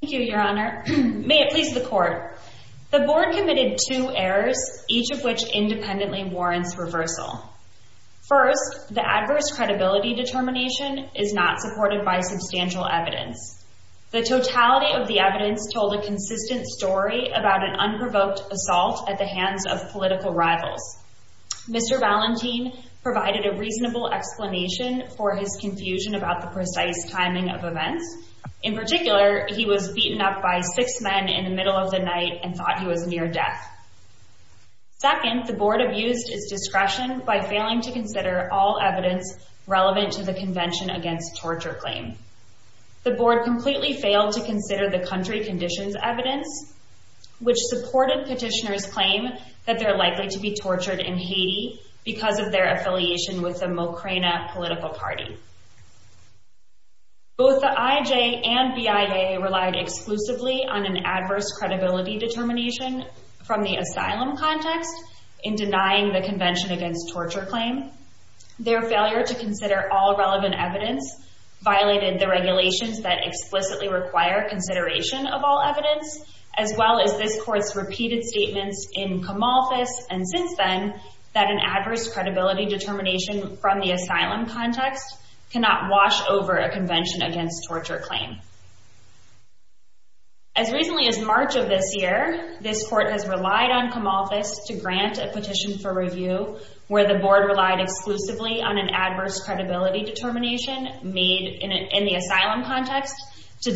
Thank you, your honor. May it please the court. The board committed two errors, each of which independently warrants reversal. First, the adverse credibility determination is not supported by substantial evidence. The totality of the evidence told a consistent story about an unprovoked assault at the hands of political rivals. Mr. Valentin provided a reasonable explanation for his confusion about the precise timing of events. In particular, he was beaten up by six men in the middle of the night and thought he was near death. Second, the board abused its discretion by failing to consider all evidence relevant to the convention against torture claim. The board completely failed to consider the country conditions evidence, which supported petitioners claim that they're likely to be tortured in Haiti because of their affiliation with the Mocrena political party. Both the IJ and BIA relied exclusively on an adverse credibility determination from the asylum context in denying the convention against torture claim. Their failure to consider all relevant evidence violated the regulations that explicitly require consideration of all evidence, as well as this court's repeated statements in Comalfos and since then, that an adverse credibility determination from the asylum context cannot wash over a convention against torture claim. As recently as March of this year, this court has relied on Comalfos to grant a petition for review where the board relied exclusively on an adverse credibility determination made in the asylum context to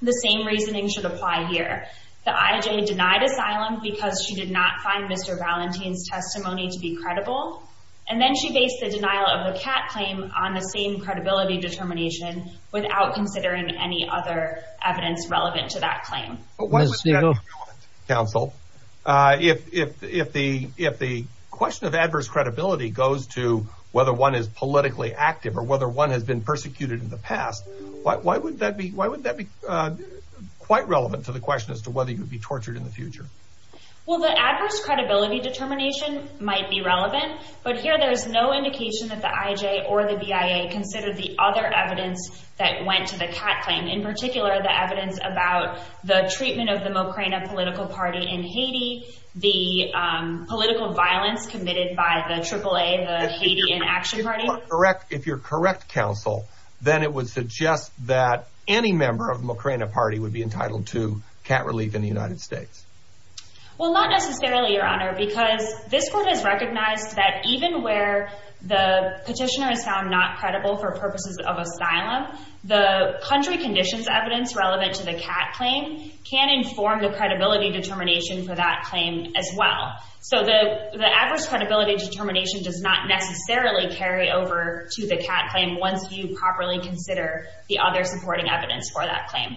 the same reasoning should apply here. The IJ denied asylum because she did not find Mr. Valentin's testimony to be credible. And then she based the denial of the cat claim on the same credibility determination without considering any other evidence relevant to that claim. Counsel, if the if the if the question of adverse credibility goes to whether one is politically active or whether one has been persecuted in the past, why would that be? Why would that be quite relevant to the question as to whether you would be tortured in the future? Well, the adverse credibility determination might be relevant, but here there is no indication that the IJ or the BIA considered the other evidence that went to the cat claim, in particular, the evidence about the treatment of the Mokrina political party in Haiti, the political violence committed by the AAA, the Haiti inaction party. Correct. If you're correct, counsel, then it would suggest that any member of the Mokrina party would be entitled to cat relief in the United States. Well, not necessarily, your honor, because this court has recognized that even where the petitioner is found not credible for purposes of asylum, the country conditions evidence relevant to the cat claim can inform the credibility determination for that claim as well. So the the adverse credibility determination does not necessarily carry over to the cat claim once you properly consider the other supporting evidence for that claim.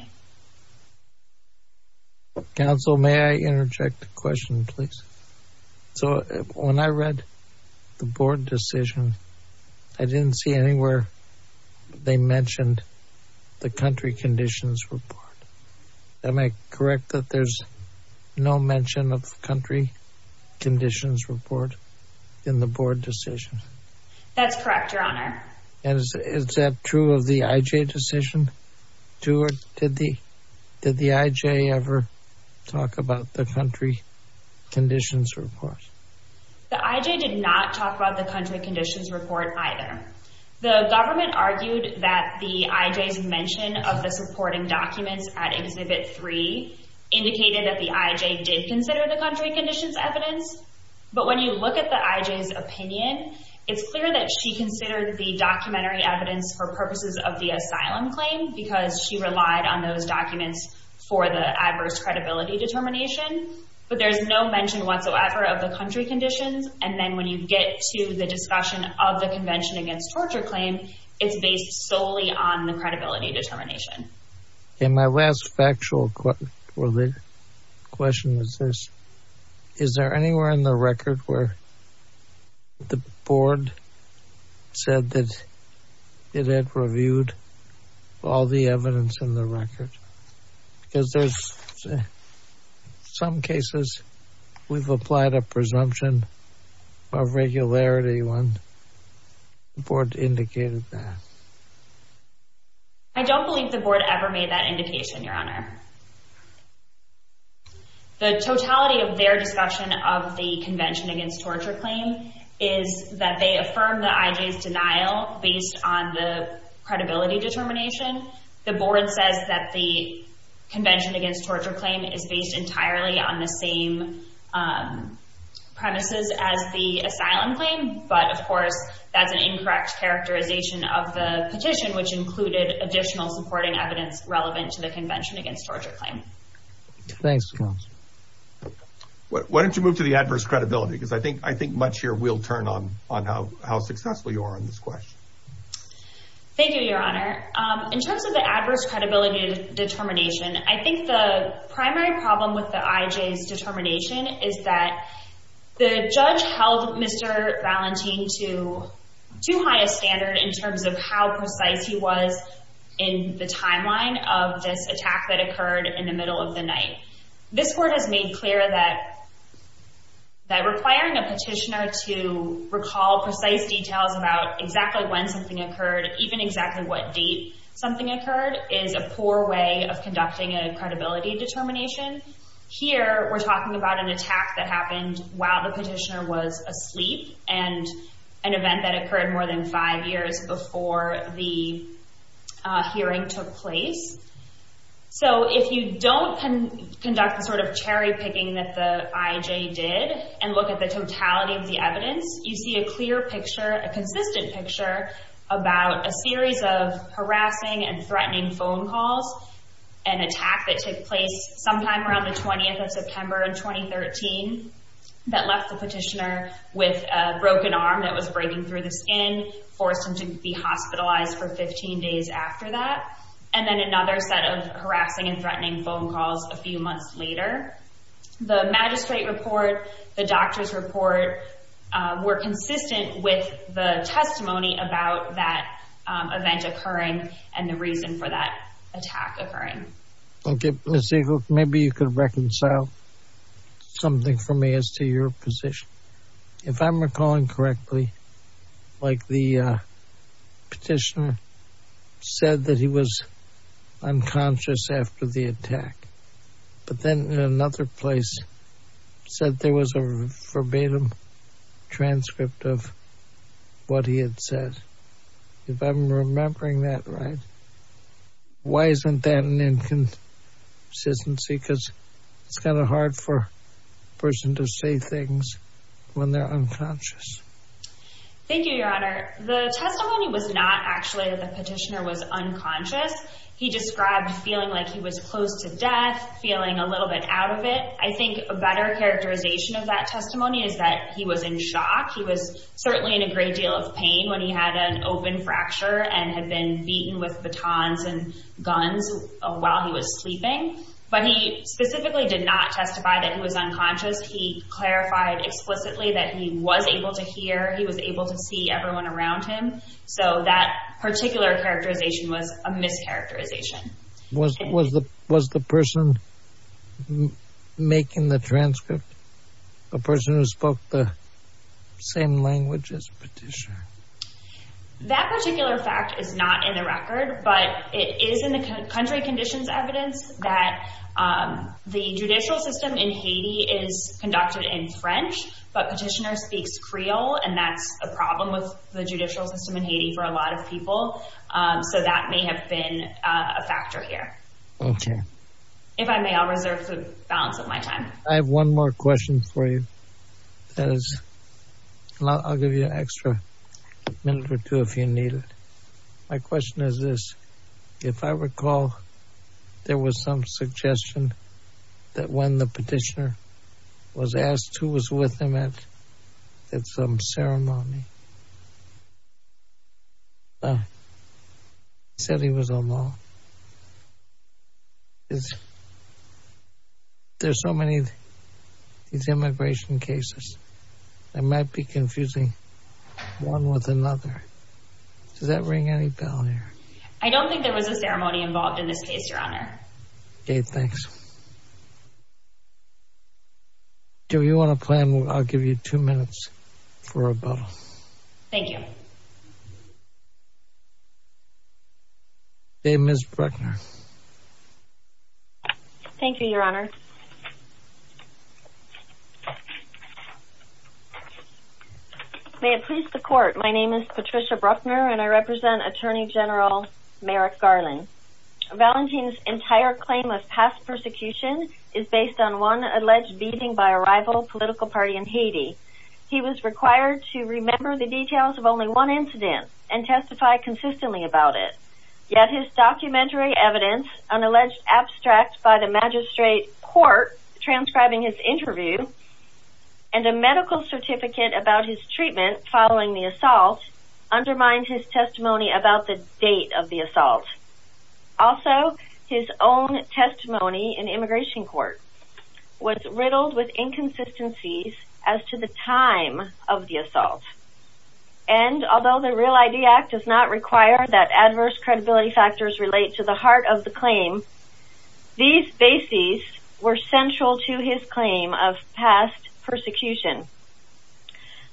Counsel, may I interject a question, please? So when I read the board decision, I didn't see anywhere they mentioned the country conditions report. Am I correct that there's no mention of country conditions report in the board decision? That's correct, your honor. And is that true of the IJ decision? Did the IJ ever talk about the country conditions report? The IJ did not talk about the country conditions report either. The government argued that the IJ's mention of the supporting documents at Exhibit 3 indicated that the IJ did consider the country conditions evidence. But when you look at the IJ's opinion, it's clear that she considered the documentary evidence for purposes of the asylum claim because she relied on those documents for the adverse credibility determination. But there's no mention whatsoever of the country conditions. And then when you get to the against torture claim, it's based solely on the credibility determination. And my last factual question was this. Is there anywhere in the record where the board said that it had reviewed all the evidence in the record? Because there's in some cases we've applied a presumption of regularity when the board indicated that. I don't believe the board ever made that indication, your honor. The totality of their discussion of the convention against torture claim is that they affirm the IJ's denial based on the credibility determination. The board says that the is based entirely on the same premises as the asylum claim. But of course, that's an incorrect characterization of the petition, which included additional supporting evidence relevant to the convention against torture claim. Thanks. Why don't you move to the adverse credibility? Because I think much here will turn on how successful you are on this question. Thank you, your honor. In terms of the adverse credibility determination, I think the primary problem with the IJ's determination is that the judge held Mr. Valentin to too high a standard in terms of how precise he was in the timeline of this attack that occurred in the middle of the night. This court has made clear that requiring a petitioner to recall precise details about exactly when something occurred, even exactly what date something occurred, is a poor way of conducting a credibility determination. Here, we're talking about an attack that happened while the petitioner was asleep and an event that occurred more than five years before the hearing took place. So if you don't conduct the sort of cherry picking that the IJ did and look at the totality of the evidence, you see a clear picture, a consistent picture, about a series of harassing and threatening phone calls, an attack that took place sometime around the 20th of September in 2013 that left the petitioner with a broken arm that was breaking through the skin, forced him to be hospitalized for 15 days after that, and then another set of harassing and threatening phone calls a few months later. The magistrate report, the doctor's report, were consistent with the testimony about that event occurring and the reason for that attack occurring. Okay, Ms. Eagle, maybe you could reconcile something for me as to your position. If I'm recalling correctly, like the petitioner said that he was unconscious after the attack, but then in another place said there was a verbatim transcript of what he had said. If I'm remembering that right, why isn't that an inconsistency? Because it's kind of hard for a person to say things when they're unconscious. Thank you, Your Honor. The testimony was not actually that the petitioner was unconscious. He described feeling like he was close to death, feeling a little bit out of it. I think a better characterization of that testimony is that he was in shock. He was certainly in a great deal of pain when he had an open fracture and had been beaten with batons and guns while he was sleeping, but he specifically did not testify that he was unconscious. He clarified explicitly that he was able to hear, he was able to see everyone around him, so that particular characterization was a mischaracterization. Was the person making the transcript the person who spoke the same language as the petitioner? That particular fact is not in the record, but it is in the country conditions evidence that the judicial system in Haiti is conducted in French, but petitioner speaks Creole, and that's a problem with the judicial system in Haiti for a lot of people, so that may have been a factor here. Okay. If I may, I'll reserve the balance of my time. I have one more question for you. I'll give you an extra minute or two if you need it. My question is this. If I recall, there was some suggestion that when the petitioner was asked who was with him at some ceremony, he said he was alone. There's so many immigration cases. I might be confusing one with another. Does that ring any bell here? I don't think there was a ceremony involved in this case, Dave. Thanks. Do you want to plan? I'll give you two minutes for a bow. Thank you. Dave, Ms. Bruckner. Thank you, Your Honor. May it please the court. My name is Patricia Bruckner, and I represent Attorney General Merrick Garland. Valentin's entire claim of past persecution is based on one alleged beating by a rival political party in Haiti. He was required to remember the details of only one incident and testify consistently about it, yet his documentary evidence, an alleged abstract by the magistrate court transcribing his interview, and a medical certificate about his treatment following the assault, undermined his testimony about the date of the assault. Also, his own testimony in immigration court was riddled with inconsistencies as to the time of the assault. And although the Real ID Act does not require that adverse credibility factors relate to the heart of the claim, these bases were central to his claim of past persecution.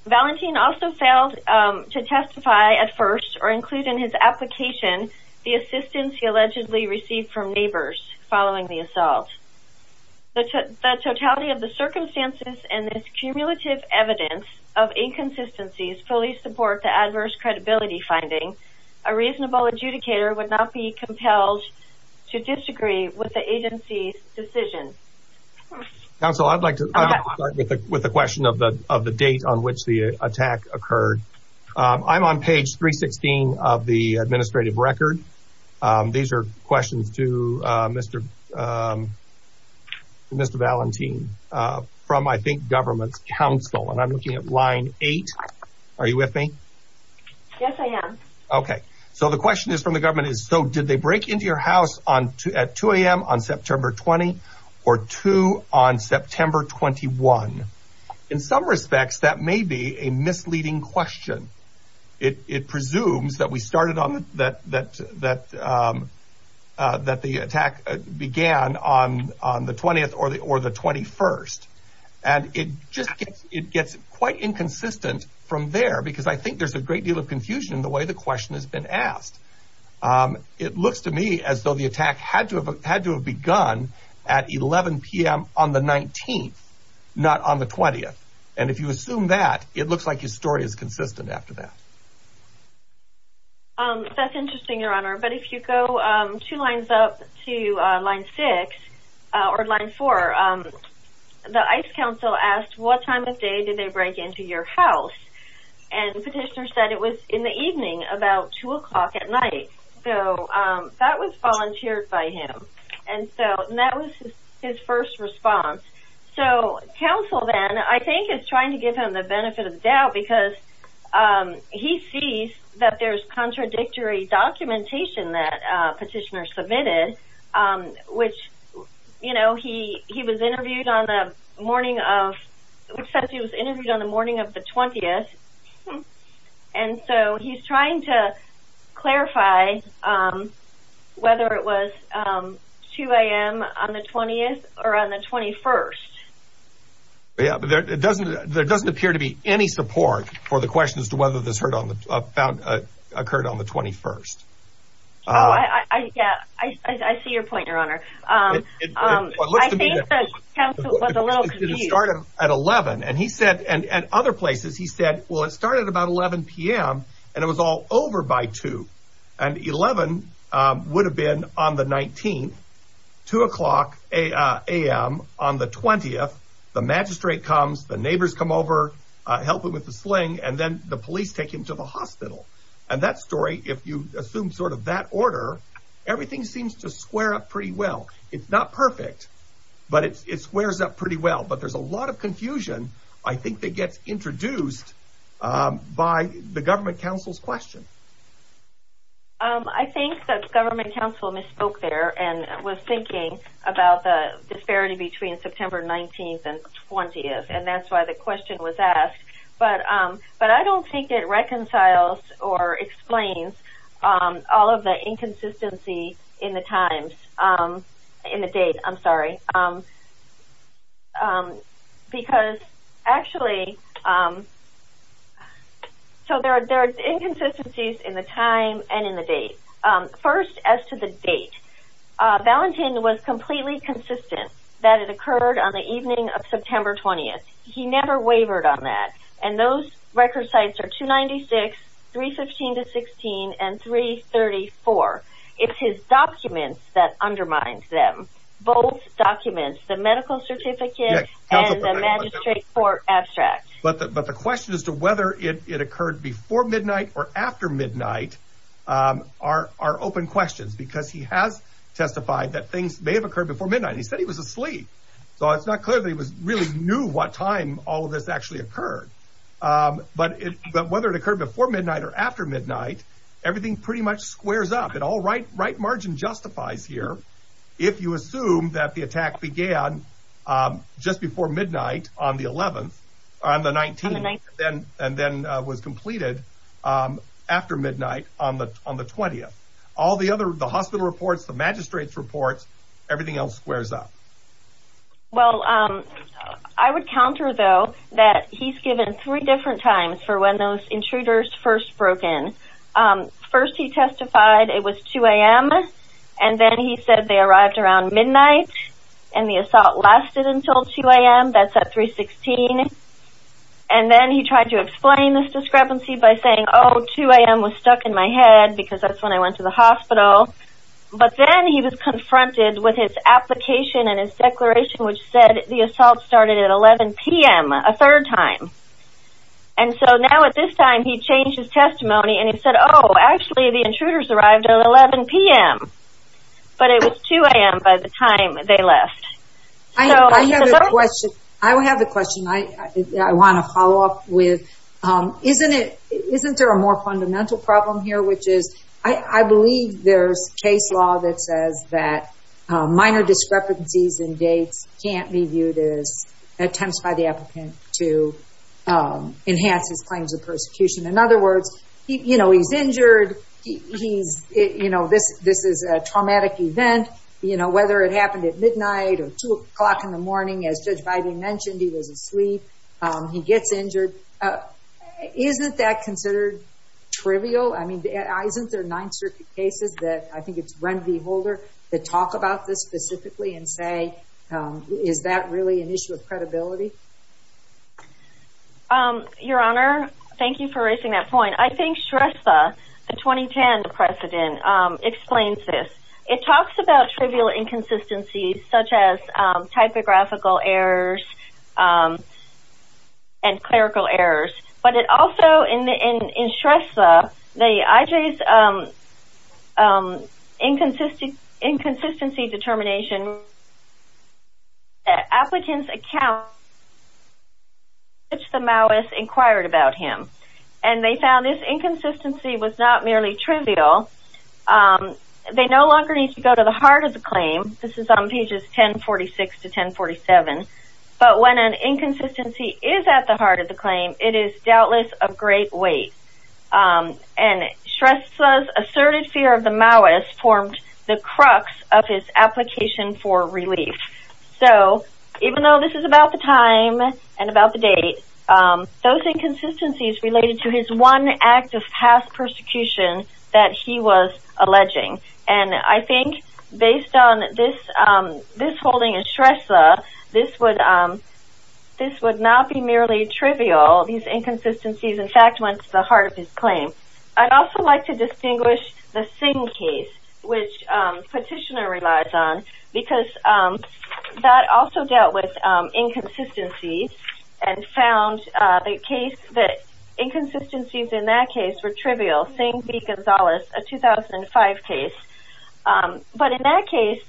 Valentin also failed to testify at first or include in his application the assistance he allegedly received from neighbors following the assault. The totality of the circumstances and this cumulative evidence of inconsistencies fully support the adverse credibility finding. A reasonable adjudicator would not be compelled to disagree with the agency's decision. Counsel, I'd like to start with the question of the date on which the attack occurred. I'm on page 316 of the administrative record. These are questions to Mr. Valentin from, I think, government's counsel. And I'm looking at line eight. Are you with me? Yes, I am. Okay. So the question is from the government is, so did they break into your house at 2 a.m. on September 20 or two on September 21? In some respects, that may be a misleading question. It presumes that the attack began on the 20th or the 21st. And it just gets quite inconsistent from there because I think there's a great deal of confusion in the way the question has been asked. Um, it looks to me as though the attack had to have had to have begun at 11 p.m. on the 19th, not on the 20th. And if you assume that it looks like his story is consistent after that. Um, that's interesting, Your Honor. But if you go two lines up to line six or line four, the ICE counsel asked, what time of day did they break into your house? And the petitioner said it was in the evening, about two o'clock at night. So that was volunteered by him. And so that was his first response. So counsel then, I think, is trying to give him the benefit of the doubt because he sees that there's contradictory documentation that petitioner submitted, which, you know, he he was interviewed on the morning of which says he was interviewed on the morning of the 20th. And so he's trying to clarify, um, whether it was, um, 2 a.m. on the 20th or on the 21st. Yeah, but it doesn't there doesn't appear to be any support for the question as to whether this heard on the found occurred on the 21st. Yeah, I see your point, Your Honor. Um, I think the counsel was a little confused. It started at 11. And he said, and other places, he said, well, it started about 11 p.m. And it was all over by two. And 11 would have been on the 19th, two o'clock a.m. on the 20th. The magistrate comes, the neighbors come over, help him with the sling, and then the police take him to the hospital. And that story, if you assume sort of that order, everything seems to square up pretty well. It's not perfect, but it squares up pretty well. But there's a lot of confusion. I think that gets introduced by the government counsel's question. I think that the government counsel misspoke there and was thinking about the disparity between September 19th and 20th. And that's why the question was asked. But I don't think it reconciles or explains all of the inconsistency in the times, in the date. I'm sorry. Because actually, so there are inconsistencies in the time and in the date. First, as to the date, Valentin was completely consistent that it occurred on the evening of September 20th. He never wavered on that. And those record sites are 296, 315 to 16, and 334. It's his documents that undermine them. Both documents, the medical certificate and the magistrate for abstract. But the question as to whether it occurred before midnight or after midnight are open questions, because he has testified that things may have occurred before midnight. He said he was asleep. So it's not clear that he really knew what time all of this actually occurred. But whether it occurred before midnight or after midnight, everything pretty much squares up. And all right margin justifies here if you assume that the attack began just before midnight on the 11th, on the 19th, and then was completed after midnight on the 20th. All the other, the hospital reports, the magistrate's reports, everything else squares up. Well, I would counter though, that he's given three different times for when those intruders first broken. First, he testified it was 2am. And then he said they arrived around midnight. And the assault lasted until 2am. That's at 316. And then he tried to explain this discrepancy by saying, oh, 2am was stuck in my head, because that's when I went to the hospital. But then he was confronted with his application and his declaration, which said the assault started at 11pm, a third time. And so now at this time, he changed his testimony. And he said, Oh, actually, the intruders arrived at 11pm. But it was 2am by the time they left. I have a question. I will have the question I want to follow up with. Isn't it? Isn't there more fundamental problem here, which is, I believe there's case law that says that minor discrepancies in dates can't be viewed as attempts by the applicant to enhance his claims of persecution. In other words, you know, he's injured. He's, you know, this, this is a traumatic event. You know, whether it happened at midnight or two o'clock in the trivial, I mean, isn't there nine circuit cases that I think it's Randy holder that talk about this specifically and say, is that really an issue of credibility? Your Honor, thank you for raising that point. I think stress the 2010 precedent explains this. It talks about trivial inconsistencies, such as typographical errors, um, and clerical errors, but it also in the, in, in Shrestha, the IJs, um, um, inconsistent inconsistency determination applicants account, which the malice inquired about him and they found this inconsistency was not merely trivial. Um, they no longer need to go to the heart of the when an inconsistency is at the heart of the claim, it is doubtless of great weight. Um, and Shrestha asserted fear of the malice formed the crux of his application for relief. So even though this is about the time and about the date, um, those inconsistencies related to his one act of past persecution that he was alleging. And I think based on this, um, this would not be merely trivial. These inconsistencies, in fact, went to the heart of his claim. I'd also like to distinguish the Singh case, which, um, petitioner relies on because, um, that also dealt with, um, inconsistencies and found, uh, the case that inconsistencies in that case were trivial, Singh v. Gonzalez, a 2005 case. Um, but in that case,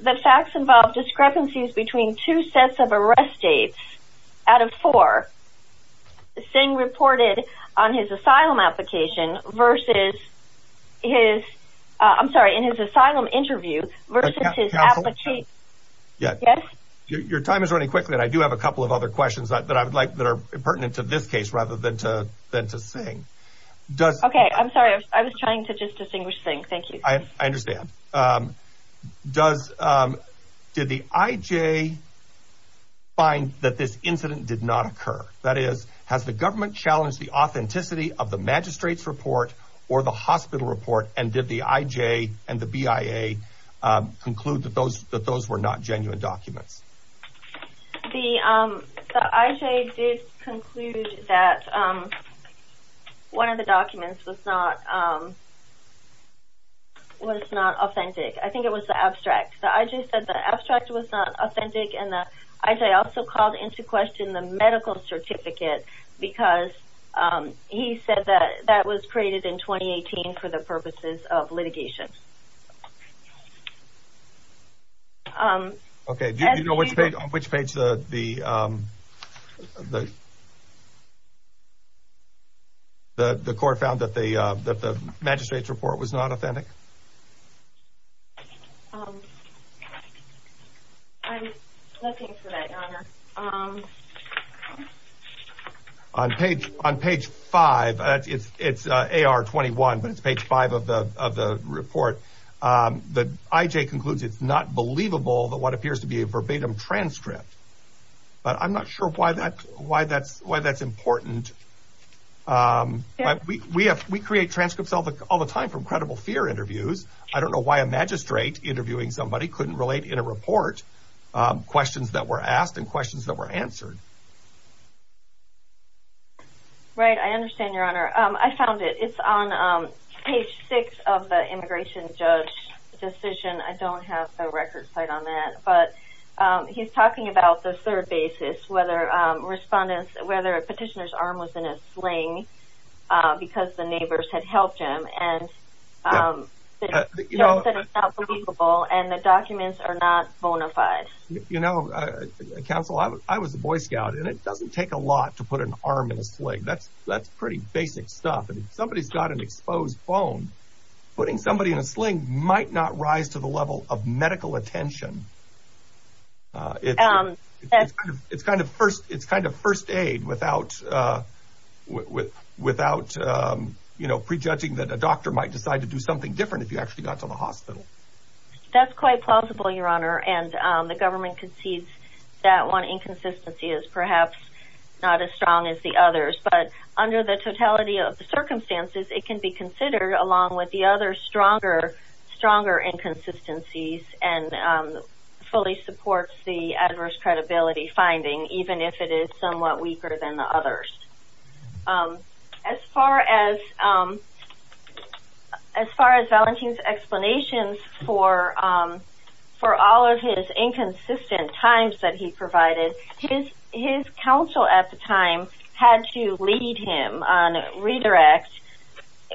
the facts involved discrepancies between two sets of arrest states out of four. Singh reported on his asylum application versus his, uh, I'm sorry, in his asylum interview versus his application. Yeah. Your time is running quickly. And I do have a couple of other questions that I would like that are pertinent to this case rather than to, than to sing. Okay. I'm sorry. I was trying to distinguish Singh. Thank you. I understand. Um, does, um, did the IJ find that this incident did not occur? That is, has the government challenged the authenticity of the magistrate's report or the hospital report? And did the IJ and the BIA, um, conclude that those, that those were not genuine documents? The, um, the IJ did conclude that, um, one of the documents was not, um, was not authentic. I think it was the abstract. The IJ said the abstract was not authentic and the IJ also called into question the medical certificate because, um, he said that that was created in 2018 for the purposes of litigation. Um, okay. Do you know which page, which page the, um, the, the court found that the, uh, that the magistrate's report was not authentic? Um, I'm looking for that, your honor. Um, on page, on page five, it's, it's, uh, AR 21, but it's page five of the, of the report. Um, the IJ concludes it's not believable that what appears to be a verbatim transcript but I'm not sure why that, why that's, why that's important. Um, but we, we have, we create transcripts all the, all the time from credible fear interviews. I don't know why a magistrate interviewing somebody couldn't relate in a report, um, questions that were asked and questions that were answered. Right. I understand your honor. Um, I found it. It's on, um, page six of the immigration judge decision. I don't have the record site on that, but, um, he's talking about the third basis, whether, um, respondents, whether a petitioner's arm was in a sling, uh, because the neighbors had helped him and, um, the judge said it's not believable and the documents are not bona fide. You know, uh, counsel, I was, I was a Boy Scout and it doesn't take a lot to put an arm in a sling. That's, that's pretty basic stuff. And if somebody's got an exposed bone, putting somebody in a sling might not rise to the level of medical attention. Um, it's kind of first, it's kind of first aid without, uh, without, um, you know, prejudging that a doctor might decide to do something different if you actually got to the hospital. That's quite plausible, your honor. And, um, the government concedes that one inconsistency is perhaps not as strong as the others, but under the totality of the circumstances, it can be fully supports the adverse credibility finding, even if it is somewhat weaker than the others. Um, as far as, um, as far as Valentin's explanations for, um, for all of his inconsistent times that he provided, his, his counsel at the time had to lead him on redirect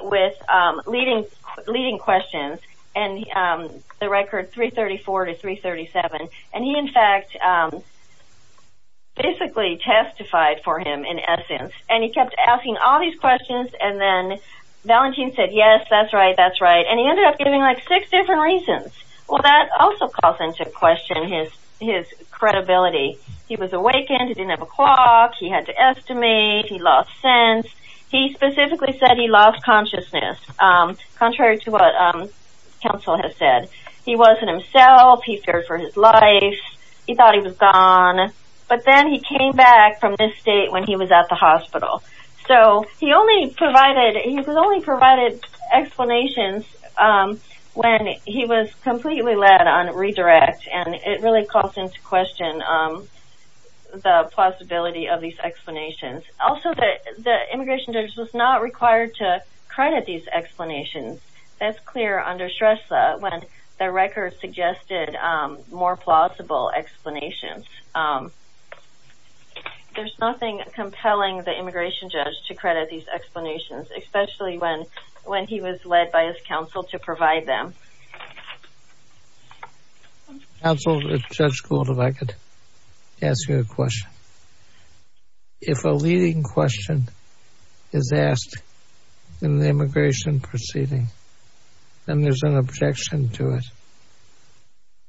with, um, leading questions and, um, the record 334 to 337. And he, in fact, um, basically testified for him in essence. And he kept asking all these questions. And then Valentin said, yes, that's right. That's right. And he ended up giving like six different reasons. Well, that also calls into question his, his credibility. He was awakened. He didn't have a clock. He had to estimate, he lost sense. He specifically said he lost consciousness. Um, contrary to what, um, counsel has said, he wasn't himself. He feared for his life. He thought he was gone, but then he came back from this state when he was at the hospital. So he only provided, he was only provided explanations, um, when he was completely led on redirect. And it really calls into question, um, the possibility of these explanations. Also that the immigration judge was not required to credit these explanations. That's clear under stress, uh, when the record suggested, um, more plausible explanations. Um, there's nothing compelling the immigration judge to credit these explanations, especially when, when he was led by his counsel to provide them. Counsel, if Judge Gould, if I could ask you a question. If a leading question is asked in the immigration proceeding, then there's an objection to it.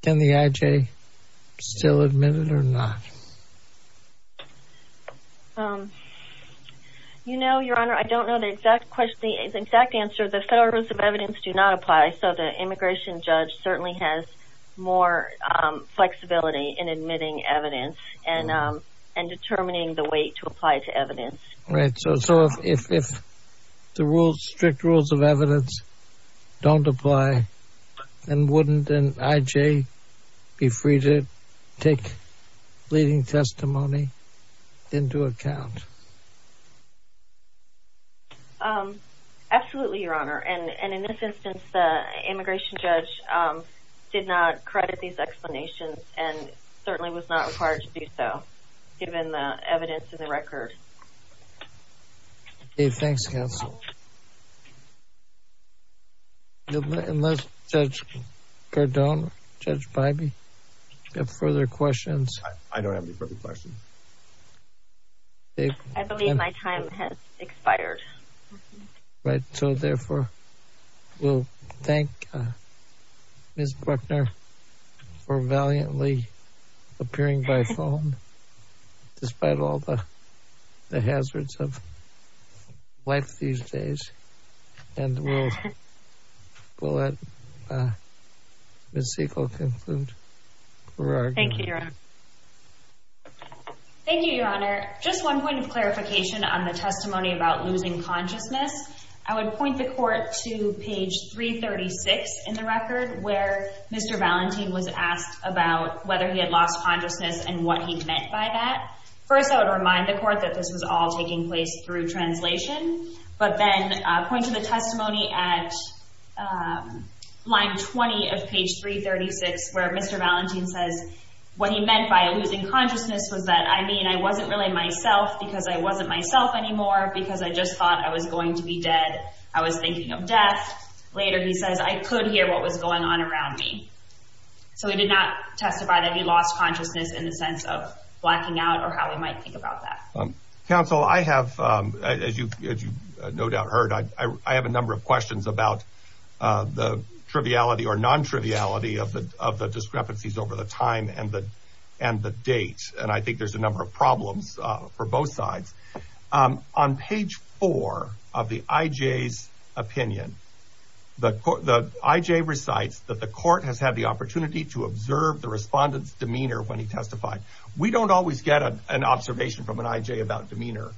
Can the IJ still admit it or not? Um, you know, your honor, I don't know the exact question. The exact answer, the federal rules of evidence do not apply. So the immigration judge certainly has more, um, flexibility in admitting evidence and, um, and determining the weight to apply to evidence. Right. So, so if, if, if the rules, strict rules of evidence don't apply, then wouldn't an IJ be free to take leading testimony into account? Um, absolutely, your honor. And, and in this instance, the immigration judge, um, did not credit these explanations and certainly was not required to do so given the evidence in the record. Hey, thanks counsel. Unless Judge Cardone, Judge Bybee, have further questions. I don't have any further questions. Um, I believe my time has expired. Right. So therefore we'll thank, uh, Ms. Bruckner for valiantly appearing by phone despite all the hazards of life these days. And we'll, we'll let, uh, Ms. Siegel conclude. Thank you, your honor. Thank you, your honor. Just one point of clarification on the testimony about losing consciousness. I would point the court to page 336 in the record where Mr. Valenti was asked about whether he had lost consciousness and what he meant by that. First, I would remind the court that this was all taking place through translation, but then, uh, point to the testimony at, um, line 20 of page 336 where Mr. Valenti says what he meant by losing consciousness was that, I mean, I wasn't really myself because I wasn't myself anymore because I just thought I was going to be dead. I was thinking of death. Later, he says, I could hear what was going on around me. So he did not testify that he lost consciousness in the sense of blacking out or how he might think about that. Counsel, I have, um, as you, as you no doubt heard, I, I, I have a number of questions about, uh, the triviality or non-triviality of the, of the discrepancies over the time and the, and the date. And I think there's a number of problems, uh, for both sides. Um, on page four of the IJ's opinion, the IJ recites that the court has had the opportunity to observe the respondent's demeanor when he testified. We don't always get an observation from an IJ about demeanor.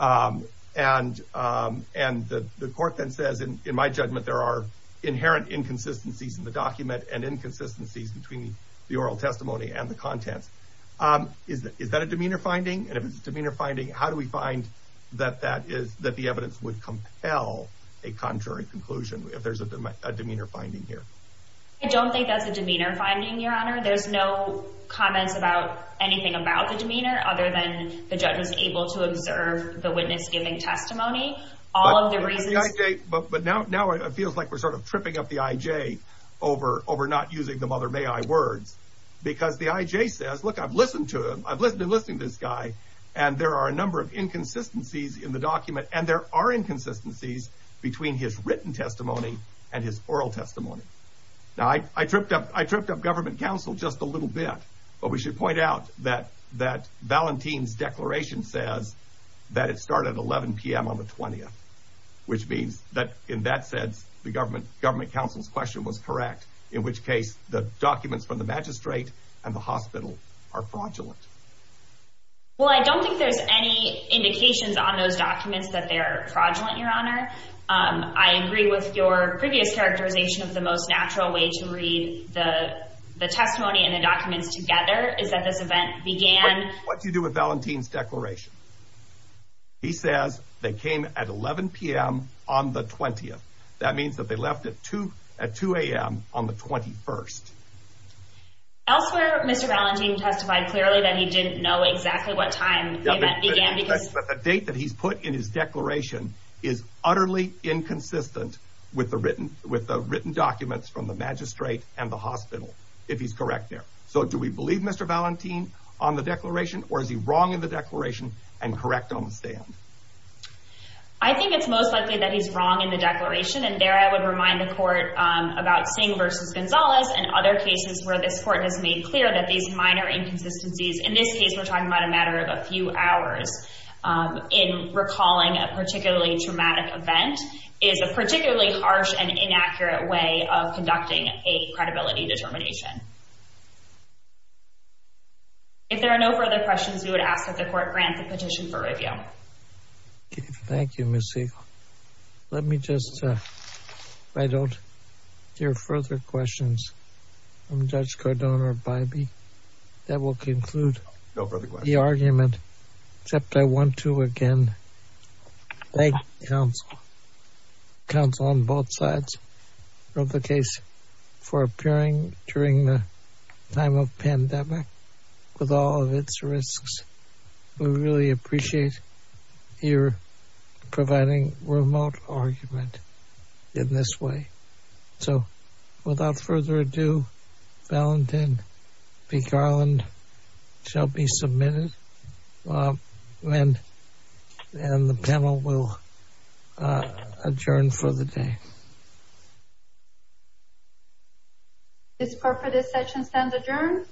Um, and, um, and the court then says, in my judgment, there are inherent inconsistencies in the document and inconsistencies between the oral testimony and the contents. Um, is that, is that a demeanor finding? And if it's a demeanor finding, how do we find that that is, that the evidence would compel a contrary conclusion if there's a demeanor finding here? I don't think that's a demeanor finding, your honor. There's no comments about anything about the demeanor other than the judge was able to observe the witness giving testimony. All of the reasons, but now, now it feels like we're sort of tripping up the IJ over, over not using the mother may I words because the IJ says, look, I've listened to him. I've listened to listening to this guy. And there are a number of inconsistencies in the document and there written testimony and his oral testimony. Now I, I tripped up, I tripped up government council just a little bit, but we should point out that, that Valentine's declaration says that it started at 11 PM on the 20th, which means that in that sense, the government government council's question was correct. In which case the documents from the magistrate and the hospital are fraudulent. Well, I don't think there's any indications on those documents that they're fraudulent, your honor. Um, I agree with your previous characterization of the most natural way to read the, the testimony and the documents together is that this event began. What do you do with Valentine's declaration? He says they came at 11 PM on the 20th. That means that they left at two at 2 AM on the 21st. Elsewhere, Mr. Valentine testified clearly that he didn't know exactly what time began, but the date that he's put in his declaration is utterly inconsistent with the written, with the written documents from the magistrate and the hospital, if he's correct there. So do we believe Mr. Valentine on the declaration or is he wrong in the declaration and correct on the stand? I think it's most likely that he's wrong in the declaration. And there I would remind the court, um, about seeing versus Gonzalez and other cases where this court has made clear that these minor inconsistencies in this case, we're talking about a matter of a few hours, um, in recalling a particularly traumatic event is a particularly harsh and inaccurate way of conducting a credibility determination. If there are no further questions, we would ask that the court grant the petition for review. Thank you, Ms. Siegel. Let me just, uh, if I don't hear further questions from Judge Cardone or Bybee, that will conclude the argument, except I want to again, thank counsel on both sides of the case for appearing during the time of pandemic with all of its risks. We really appreciate your providing remote argument in this way. So without further ado, Valentine B. Garland shall be submitted and the panel will adjourn for the day. This court for this session stands adjourned.